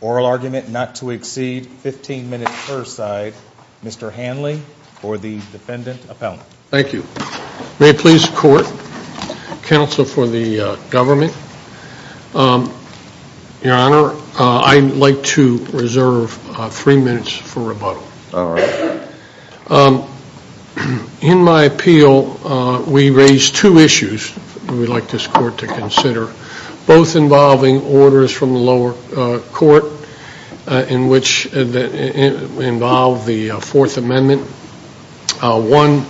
Oral argument not to exceed 15 minutes per side. Mr. Hanley for the defendant appellant. Thank you. May it please the court, counsel for the government, your honor, I'd like to take three minutes for rebuttal. In my appeal, we raise two issues we'd like this court to consider, both involving orders from the lower court in which involve the fourth amendment. One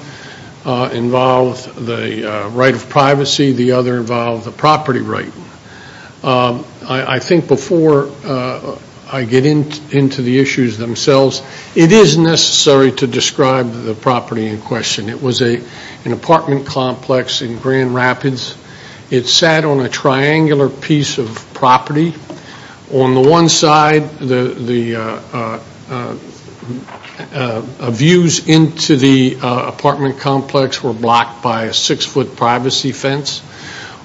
involves the right of privacy, the other involves the property right. I think before I get into the issues themselves, it is necessary to describe the property in question. It was an apartment complex in Grand Rapids. It sat on a triangular piece of property. On the one side, the views into the apartment complex were blocked by a six-foot privacy fence.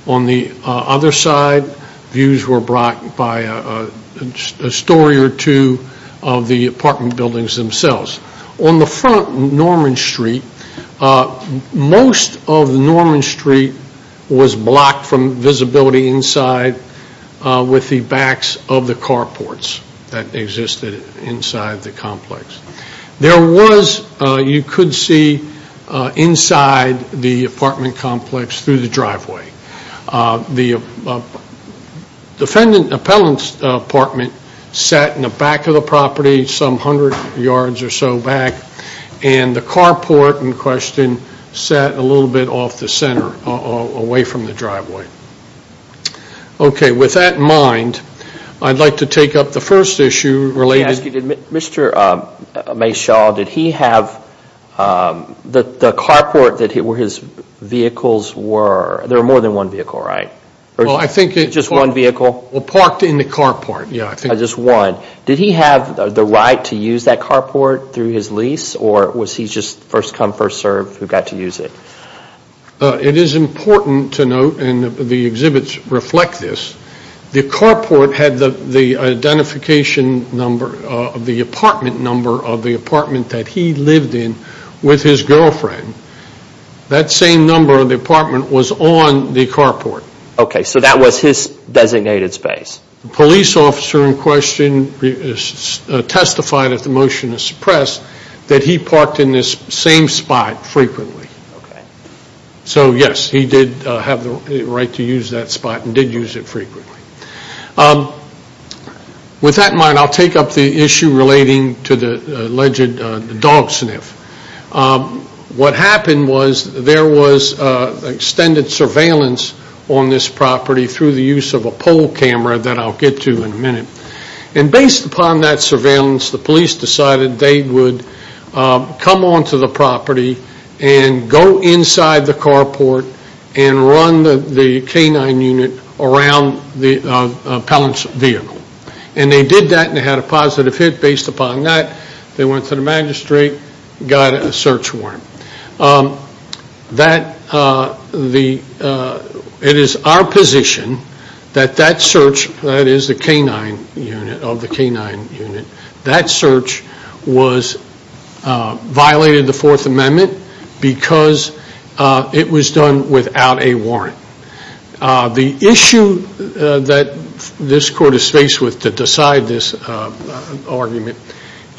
On the other side, views were blocked by a story or two of the apartment buildings themselves. On the front, Norman Street, most of Norman Street was blocked from visibility inside with the backs of the carports that existed inside the complex. There was, you could see inside the apartment complex through the driveway. The defendant appellant's apartment sat in the back of the property, some hundred yards or so back, and the carport in question sat a little bit off the center, away from the driveway. Okay, with that in mind, I'd like to take up the first issue related to... Mr. Meshaw, did he have the carport where his vehicles were? There were more than one vehicle, right? Well, I think... Just one vehicle? Well, parked in the carport, yeah. Just one. Did he have the right to use that carport through his lease, or was he just first come, first served who got to use it? It is important to note, and the exhibits reflect this, the carport had the identification number of the apartment number of the apartment that he lived in with his girlfriend. That same number of the apartment was on the carport. Okay, so that was his designated space? The police officer in question testified, if the motion is suppressed, that he did use it frequently. With that in mind, I'll take up the issue relating to the alleged dog sniff. What happened was there was extended surveillance on this property through the use of a pole camera that I'll get to in a minute. And based upon that surveillance, the police decided they would come onto the property and go inside the canine unit around the appellant's vehicle. And they did that, and they had a positive hit based upon that. They went to the magistrate, got a search warrant. It is our position that that search, that is the canine unit, of the canine The issue that this court is faced with to decide this argument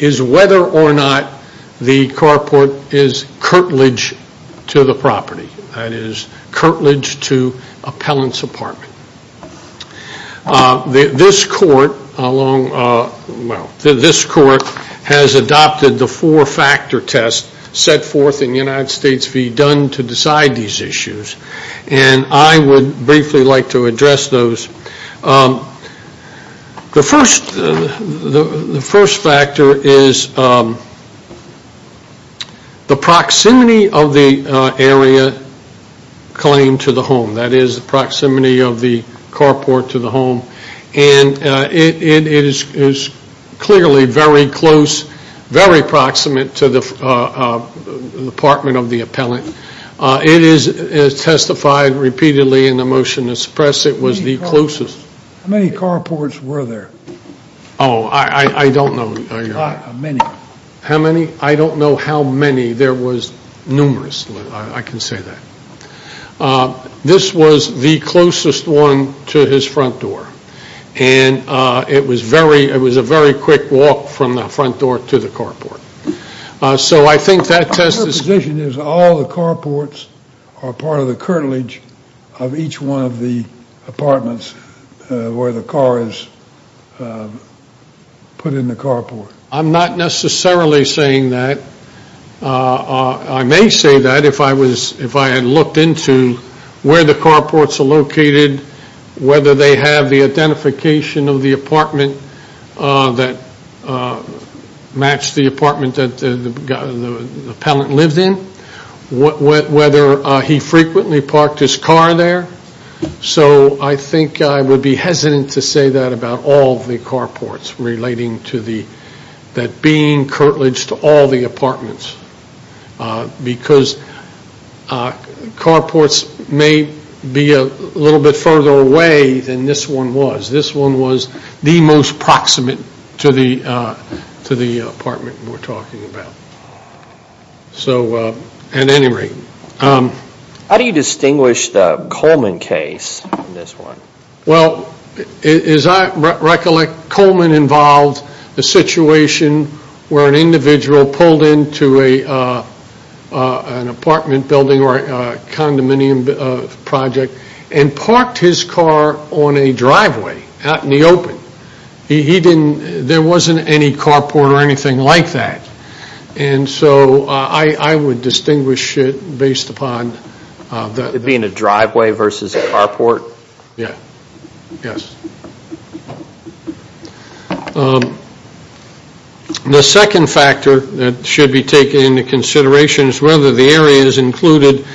is whether or not the carport is curtilage to the property. That is, curtilage to appellant's apartment. This court has adopted the four factor test set forth in the United States v. Dunn to decide these issues. And I would briefly like to address those. The first factor is the proximity of the area claimed to the home. That is, the proximity of the carport to the home. And it is clearly very close, very proximate to the apartment of the appellant. It is testified repeatedly in the motion to suppress it was the closest. How many carports were there? Oh, I don't know. How many? How many? I don't know how many. There was numerous. I can say that. This was the closest one to his front door. And it was a very quick walk from the front door to the carport. So I think that test is... Your position is all the carports are part of the curtilage of each one of the apartments where the car is put in the carport. I'm not necessarily saying that. I may say that if I had looked into where the carports are located, whether they have the identification of the apartment that matched the apartment that the appellant lived in, whether he frequently parked his car there. So I think I would be hesitant to say that about all the carports relating to that being curtilage to all the apartments. Because carports may be a little bit further away than this one was. This one was the most proximate to the apartment we're talking about. So at any rate... How do you distinguish the Coleman case from this one? Well, as I recollect, Coleman involved the situation where an individual pulled into an apartment building or a condominium project and parked his car on a driveway out in the open. There wasn't any carport or anything like that. And so I would distinguish it based upon... It being a driveway versus a carport? Yeah. Yes. The second factor that should be taken into consideration is whether the area is included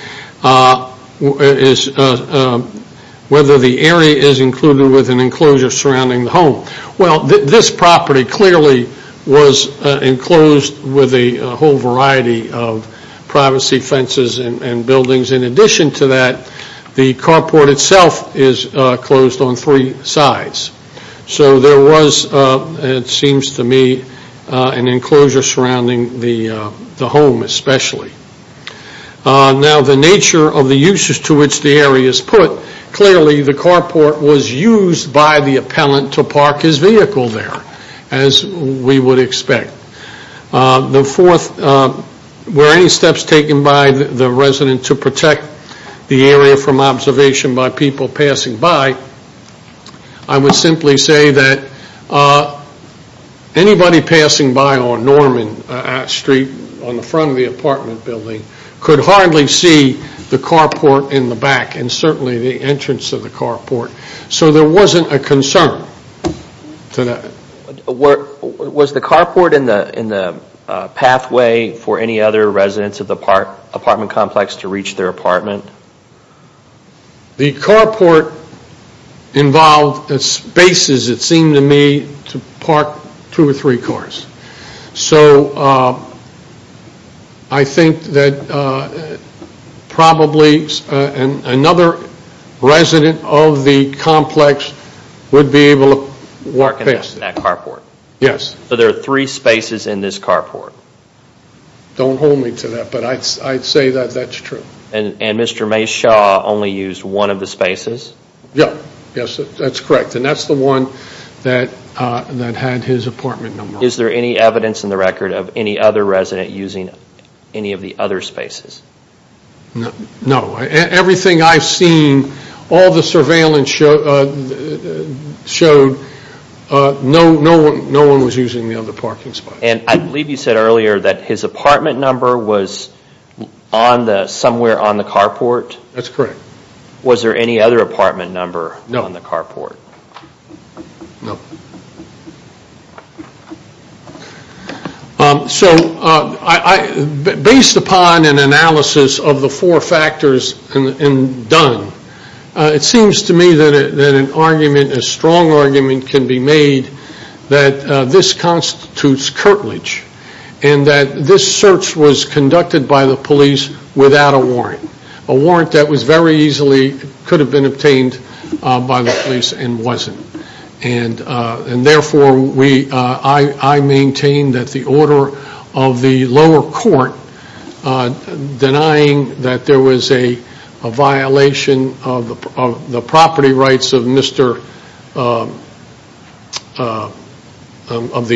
with an enclosure surrounding the home. Well, this property clearly was enclosed with a whole variety of privacy fences and buildings. In addition to that, the carport itself is closed on three sides. So there was, it seems to me, an enclosure surrounding the home especially. Now the nature of the uses to which the area is put, clearly the carport was used by the appellant to park his vehicle there, as we would expect. The fourth, were any steps taken by the resident to protect the area from observation by people passing by? I would simply say that anybody passing by on Norman Street on the front of the apartment building could hardly see the carport in the back and certainly the entrance of the carport. So there wasn't a concern to that. Was the carport in the pathway for any other residents of the apartment complex to reach their apartment? The carport involved spaces, it seemed to me, to park two or three cars. So I think that probably another resident of the complex would be able to work in that carport. Yes. So there are three spaces in this carport? Don't hold me to that, but I'd say that that's true. And Mr. Mayshaw only used one of the spaces? Yes, that's correct. And that's the one that had his apartment number on it. Is there any evidence in the record of any other resident using any of the other spaces? No. Everything I've seen, all the surveillance showed, no one was using the other parking spots. And I believe you said earlier that his apartment number was somewhere on the carport? That's correct. Was there any other apartment number on the carport? No. So based upon an analysis of the four factors and done, it seems to me that an argument, a strong argument, can be made that this constitutes curtilage and that this search was conducted by the police without a warrant. A warrant that was very easily could have been obtained by the police and wasn't. And therefore, I maintain that the order of the lower court denying that there was a violation of the property rights of the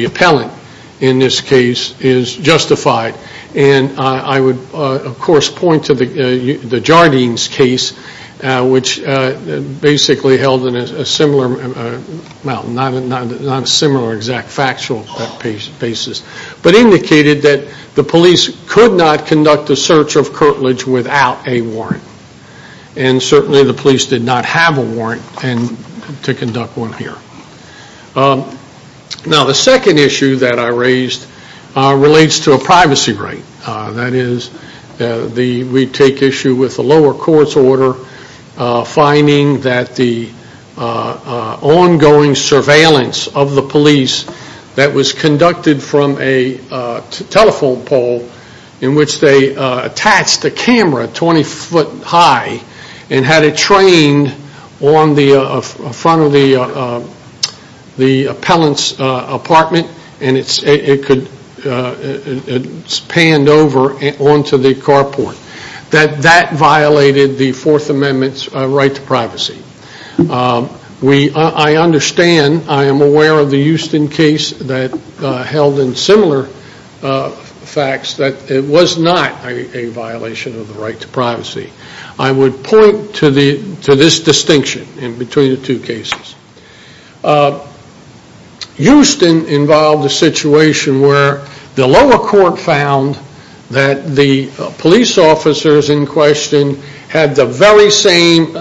appellant in this case is justified. And I would, of course, point to the Jardines case, which basically held a similar, well, not a similar exact factual basis, but indicated that the police could not conduct a search of curtilage without a warrant. And certainly the police did not have a warrant to conduct one here. Now the second issue that I raised relates to a privacy right. That is, we take issue with the lower court's order finding that the ongoing surveillance of the police that was conducted from a telephone pole in which they attached a camera 20 foot high and had it trained on the front of the appellant's apartment, and it's panned over onto the carport, that that violated the Fourth Amendment's right to privacy. I understand, I am aware of the Houston case that held in similar facts that it was not a violation of the right to privacy. I would point to this distinction in between the two cases. Houston involved a situation where the lower court found that the police officers in question had the very same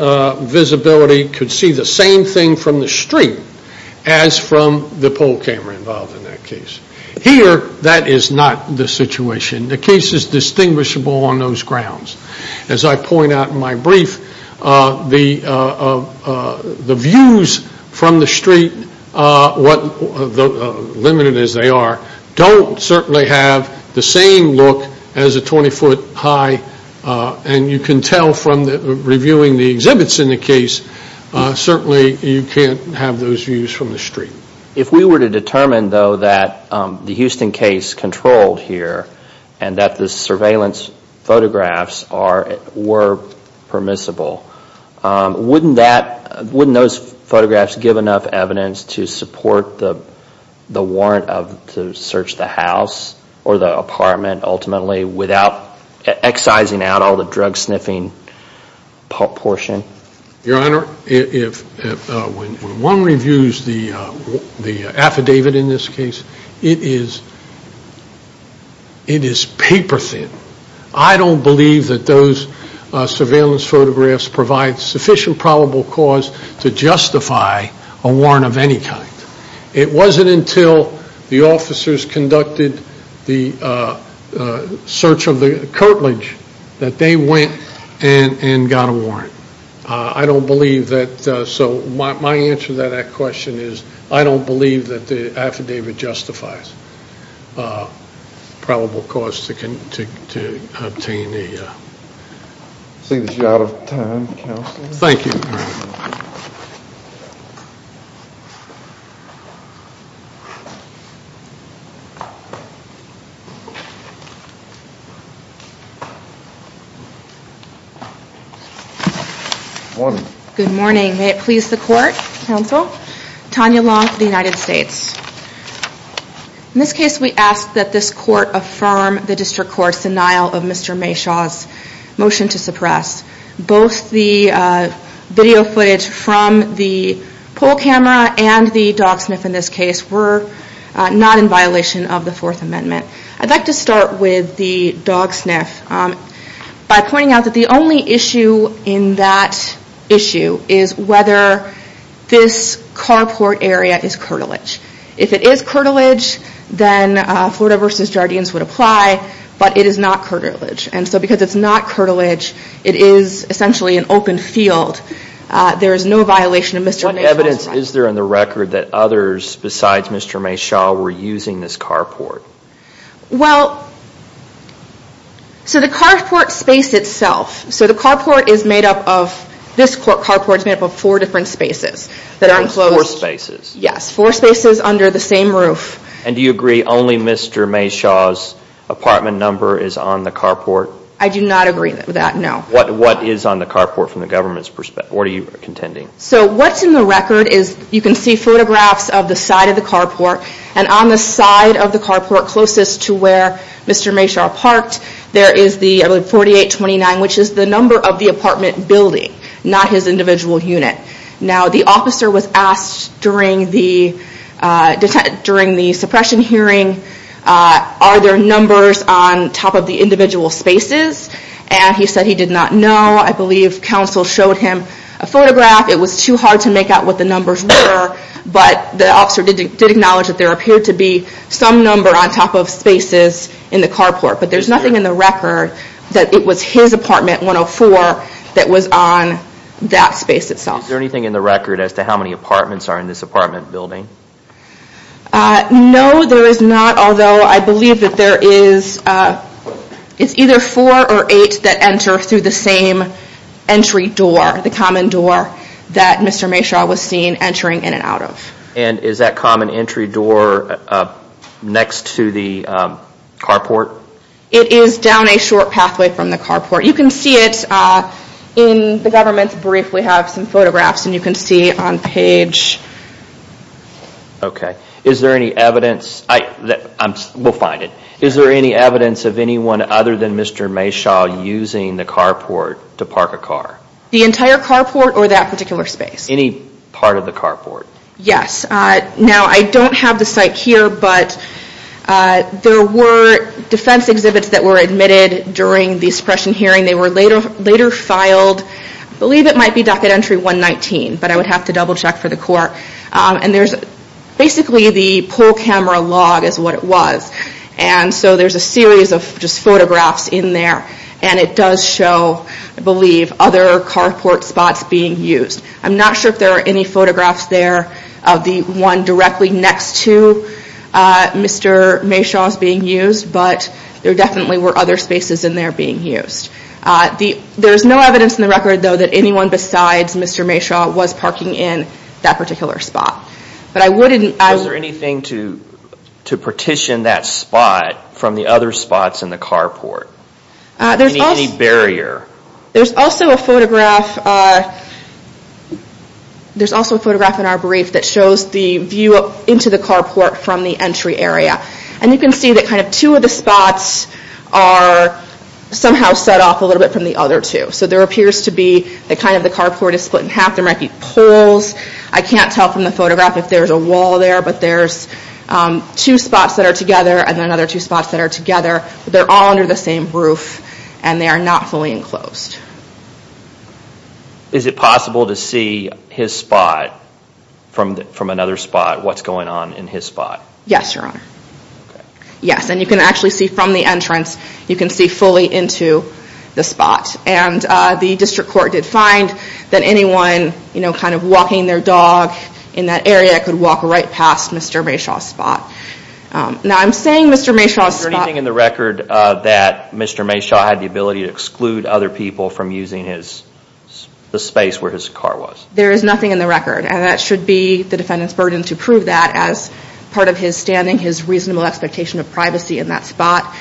visibility, could see the same thing from the street as from the pole camera involved in that case. Here, that is not the situation. The case is distinguishable on those grounds. As I point out in my brief, the views from the street, what limited as they are, don't certainly have the same look as a 20 foot high. And you can tell from reviewing the exhibits in the case, certainly you can't have those views from the street. If we were to determine though that the Houston case controlled here and that the surveillance photographs were permissible, wouldn't those photographs give enough evidence to support the warrant to search the house or the apartment ultimately without excising out all the drug sniffing portion? Your Honor, when one reviews the affidavit in this case, it is paper thin. I don't believe that those surveillance photographs provide sufficient probable cause to justify a warrant of any kind. It wasn't until the officers conducted the search of the curtilage that they went and got a warrant. I don't believe that, so my answer to that question is, I don't believe that the affidavit justifies probable cause to obtain a warrant. I see that you're out of time, Counsel. Thank you. Good morning. Good morning. May it please the Court, Counsel? Tanya Long, the United States. In this case, we ask that this Court affirm the District Court's denial of Mr. Mayshaw's motion to suppress. Both the video footage from the poll camera and the dog sniff in this case were not in violation of the Fourth Amendment. I'd like to start with the dog sniff by pointing out that the only issue in that issue is whether this carport area is curtilage. If it is curtilage, then Florida v. Jardines would apply, but it is not curtilage. And so because it's not curtilage, it is essentially an open field. There is no violation of Mr. Mayshaw's right. What evidence is there on the record that others besides Mr. Mayshaw were using this carport? Well, so the carport space itself, so the carport is made up of, this carport is made up of four different spaces. That are enclosed. Four spaces. Yes, four spaces under the same roof. And do you agree only Mr. Mayshaw's apartment number is on the carport? I do not agree with that, no. What is on the carport from the government's perspective? What are you contending? So what's in the record is you can see photographs of the side of the carport, and on the side of the carport closest to where Mr. Mayshaw parked, there is the 4829, which is the number of the apartment building, not his individual unit. Now the officer was asked during the suppression hearing, are there numbers on top of the individual spaces? And he said he did not know. I believe counsel showed him a photograph. It was too hard to make out what the numbers were, but the officer did acknowledge that there appeared to be some number on top of spaces in the carport. But there's nothing in the record that it was his apartment, 104, that was on that space itself. Is there anything in the record as to how many apartments are in this apartment building? No, there is not, although I believe that there is, it's either four or eight that enter through the same entry door, the common door that Mr. Mayshaw was seen entering in and out of. And is that common entry door next to the carport? It is down a short pathway from the carport. You can see it in the government's brief. We have some photographs and you can see on page... Okay, is there any evidence, we'll find it, is there any evidence of anyone other than Mr. Mayshaw using the carport to park a car? The entire carport or that particular space? Any part of the carport. Yes, now I don't have the site here, but there were defense exhibits that were admitted during the suppression hearing. They were later filed, I believe it might be docket entry 119, but I would have to double check for the court. And there's basically the pole camera log is what it was. And so there's a series of just photographs in there. And it does show, I believe, other carport spots being used. I'm not sure if there are any photographs there of the one directly next to Mr. Mayshaw's being used, but there definitely were other spaces in there being used. There's no evidence in the record, though, that anyone besides Mr. Mayshaw was parking in that particular spot. But I wouldn't... Was there anything to partition that spot from the other spots in the carport? Any barrier? There's also a photograph in our brief that shows the view into the carport from the entry area. And you can see that kind of two of the spots are somehow set off a little bit from the other two. So there appears to be that kind of the carport is split in half. There might be poles. I can't tell from the photograph if there's a wall there, but there's two spots that are together and another two spots that are together. They're all under the same roof, and they are not fully enclosed. Is it possible to see his spot from another spot, what's going on in his spot? Yes, Your Honor. Okay. Yes, and you can actually see from the entrance. You can see fully into the spot. And the district court did find that anyone kind of walking their dog in that area could walk right past Mr. Mayshaw's spot. Now, I'm saying Mr. Mayshaw's spot... Is there anything in the record that Mr. Mayshaw had the ability to exclude other people from using the space where his car was? There is nothing in the record, and that should be the defendant's burden to prove that as part of his standing, his reasonable expectation of privacy in that spot.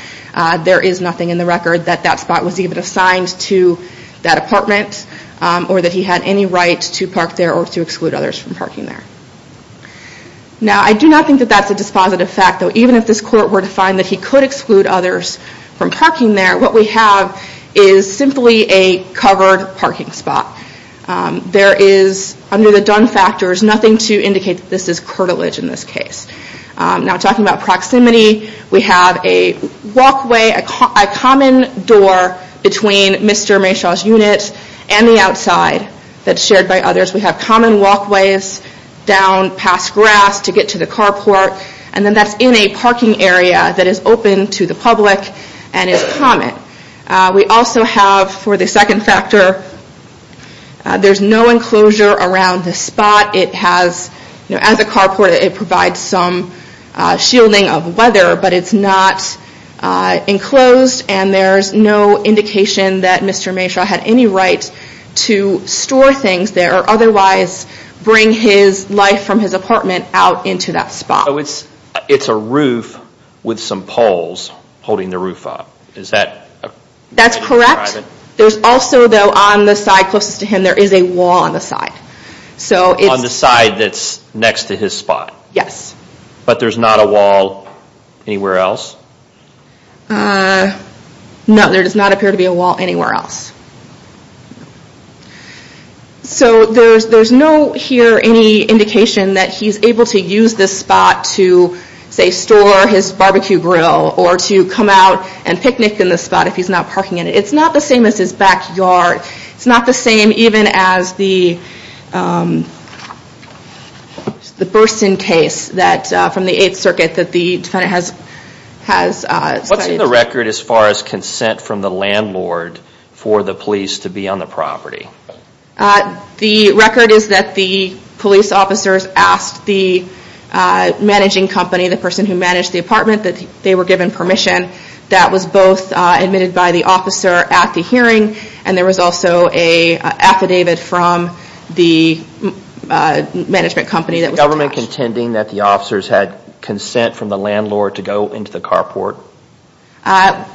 There is nothing in the record that that spot was even assigned to that apartment or that he had any right to park there or to exclude others from parking there. Now, I do not think that that's a dispositive fact, though even if this court were to find that he could exclude others from parking there, what we have is simply a covered parking spot. There is, under the Dunn factors, nothing to indicate that this is curtilage in this case. Now, talking about proximity, we have a walkway, a common door between Mr. Mayshaw's unit and the outside that's shared by others. We have common walkways down past grass to get to the carport, and then that's in a parking area that is open to the public and is common. We also have, for the second factor, there's no enclosure around this spot. It has, as a carport, it provides some shielding of weather, but it's not enclosed, and there's no indication that Mr. Mayshaw had any right to store things there or otherwise bring his life from his apartment out into that spot. It's a roof with some poles holding the roof up. That's correct. There's also, though, on the side closest to him, there is a wall on the side. On the side that's next to his spot? Yes. But there's not a wall anywhere else? No, there does not appear to be a wall anywhere else. So there's no here any indication that he's able to use this spot to, say, store his barbecue grill or to come out and picnic in this spot if he's not parking in it. It's not the same as his backyard. It's not the same even as the Burston case from the Eighth Circuit that the defendant has studied. What's in the record as far as consent from the landlord for the police to be on the property? The record is that the police officers asked the managing company, the person who managed the apartment, that they were given permission. That was both admitted by the officer at the hearing, and there was also an affidavit from the management company that was attached. Is the government contending that the officers had consent from the landlord to go into the carport?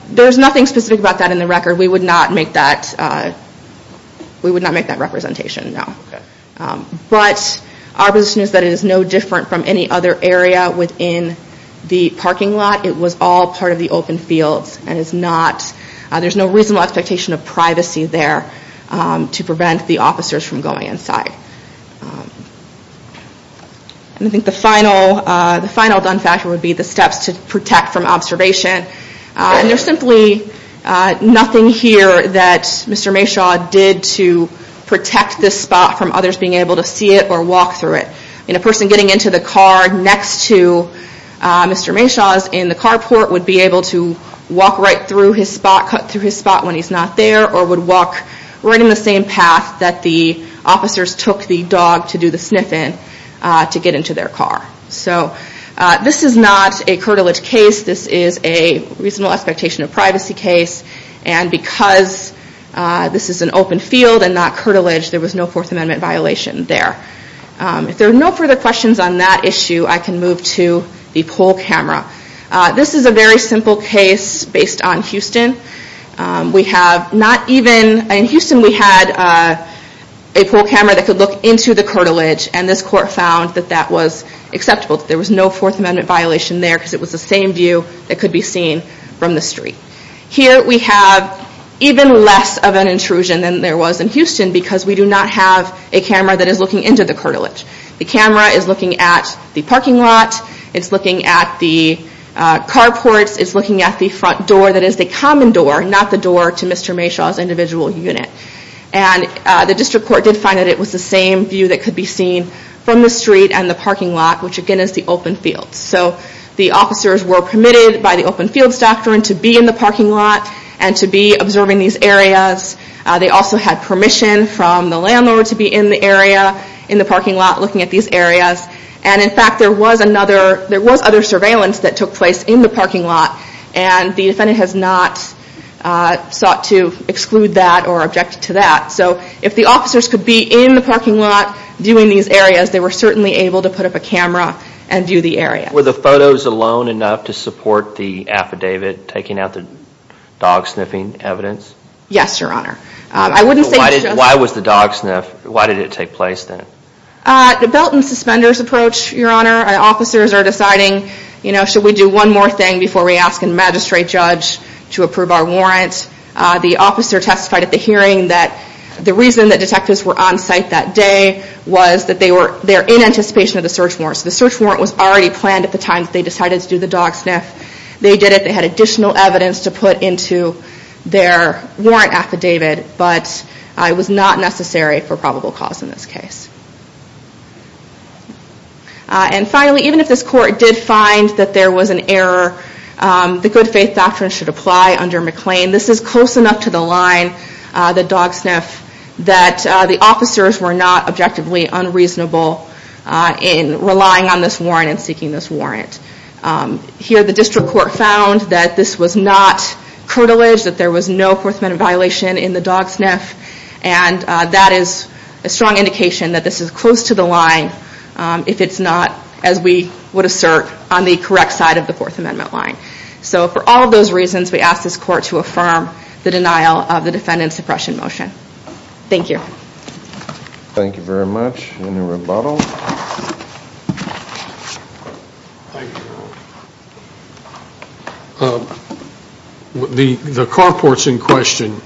There's nothing specific about that in the record. We would not make that representation, no. But our position is that it is no different from any other area within the parking lot. It was all part of the open fields, and there's no reasonable expectation of privacy there to prevent the officers from going inside. I think the final done factor would be the steps to protect from observation. There's simply nothing here that Mr. Mayshaw did to protect this spot from others being able to see it or walk through it. A person getting into the car next to Mr. Mayshaw's in the carport would be able to walk right through his spot, cut through his spot when he's not there, or would walk right in the same path that the officers took the dog to do the sniff in to get into their car. So this is not a curtilage case. This is a reasonable expectation of privacy case. And because this is an open field and not curtilage, there was no Fourth Amendment violation there. If there are no further questions on that issue, I can move to the poll camera. This is a very simple case based on Houston. In Houston, we had a poll camera that could look into the curtilage, and this court found that that was acceptable. There was no Fourth Amendment violation there because it was the same view that could be seen from the street. Here we have even less of an intrusion than there was in Houston because we do not have a camera that is looking into the curtilage. The camera is looking at the parking lot. It's looking at the carports. It's looking at the front door that is the common door, not the door to Mr. Mayshaw's individual unit. The district court did find that it was the same view that could be seen from the street and the parking lot, which again is the open field. The officers were permitted by the open field doctrine to be in the parking lot and to be observing these areas. They also had permission from the landlord to be in the parking lot looking at these areas. In fact, there was other surveillance that took place in the parking lot, and the defendant has not sought to exclude that or object to that. So if the officers could be in the parking lot doing these areas, they were certainly able to put up a camera and view the area. Were the photos alone enough to support the affidavit taking out the dog sniffing evidence? Yes, Your Honor. Why did it take place then? The belt and suspenders approach, Your Honor. Officers are deciding, you know, should we do one more thing before we ask a magistrate judge to approve our warrant? The officer testified at the hearing that the reason that detectives were on site that day was that they were in anticipation of the search warrant. The search warrant was already planned at the time they decided to do the dog sniff. They did it. They had additional evidence to put into their warrant affidavit, but it was not necessary for probable cause in this case. And finally, even if this court did find that there was an error, the good faith doctrine should apply under McLean. This is close enough to the line, the dog sniff, that the officers were not objectively unreasonable in relying on this warrant and seeking this warrant. Here the district court found that this was not curtilage, that there was no fourth amendment violation in the dog sniff, and that is a strong indication that this is close to the line if it's not, as we would assert, on the correct side of the fourth amendment line. So for all of those reasons, we ask this court to affirm the denial of the defendant's suppression motion. Thank you. Thank you very much. Any rebuttals? Thank you. The carports in question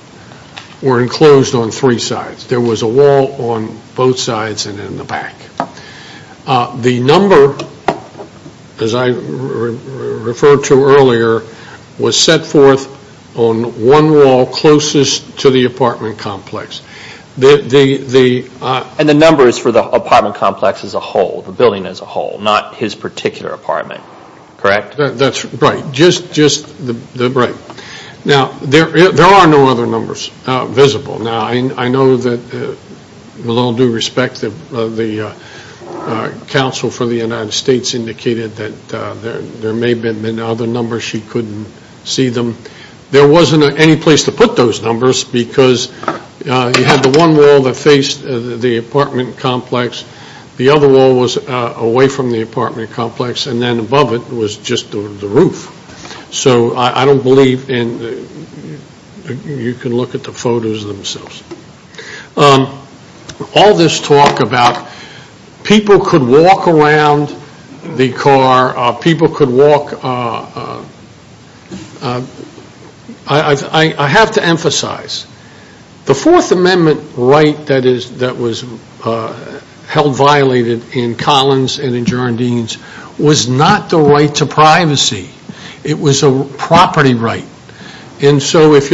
were enclosed on three sides. There was a wall on both sides and in the back. The number, as I referred to earlier, was set forth on one wall closest to the apartment complex. And the number is for the apartment complex as a whole, the building as a whole, not his particular apartment, correct? That's right. Now, there are no other numbers visible. Now, I know that with all due respect, the counsel for the United States indicated that there may have been other numbers. She couldn't see them. There wasn't any place to put those numbers because you had the one wall that faced the apartment complex. The other wall was away from the apartment complex, and then above it was just the roof. So I don't believe you can look at the photos themselves. All this talk about people could walk around the car, people could walk, I have to emphasize, the Fourth Amendment right that was held violated in Collins and in Jardines was not the right to privacy. It was a property right. What do you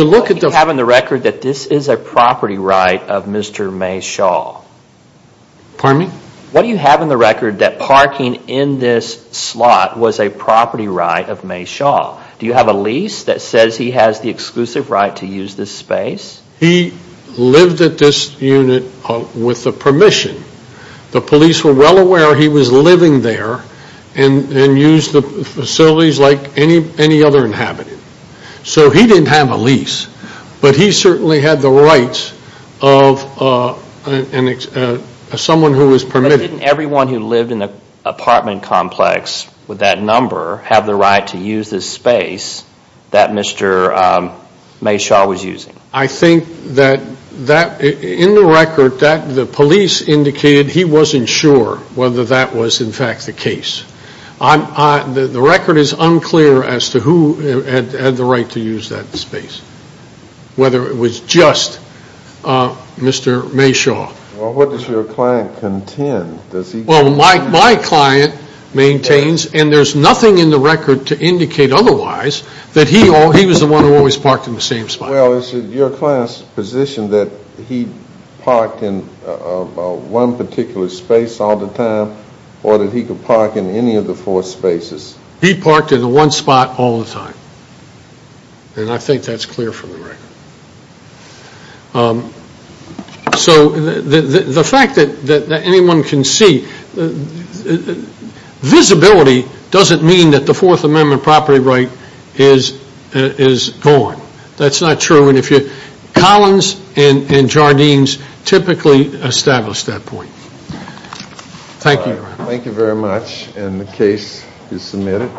have in the record that this is a property right of Mr. Mae Shaw? Pardon me? What do you have in the record that parking in this slot was a property right of Mae Shaw? Do you have a lease that says he has the exclusive right to use this space? He lived at this unit with the permission. The police were well aware he was living there and used the facilities like any other inhabitant. So he didn't have a lease, but he certainly had the rights of someone who was permitted. But didn't everyone who lived in the apartment complex with that number have the right to use this space that Mr. Mae Shaw was using? I think that in the record that the police indicated he wasn't sure whether that was in fact the case. The record is unclear as to who had the right to use that space, whether it was just Mr. Mae Shaw. Well, what does your client contend? Well, my client maintains, and there's nothing in the record to indicate otherwise, that he was the one who always parked in the same spot. Well, is it your client's position that he parked in one particular space all the time or that he could park in any of the four spaces? He parked in the one spot all the time, and I think that's clear from the record. So the fact that anyone can see, visibility doesn't mean that the Fourth Amendment property right is gone. That's not true. Collins and Jardines typically establish that point. Thank you. Thank you very much, and the case is submitted.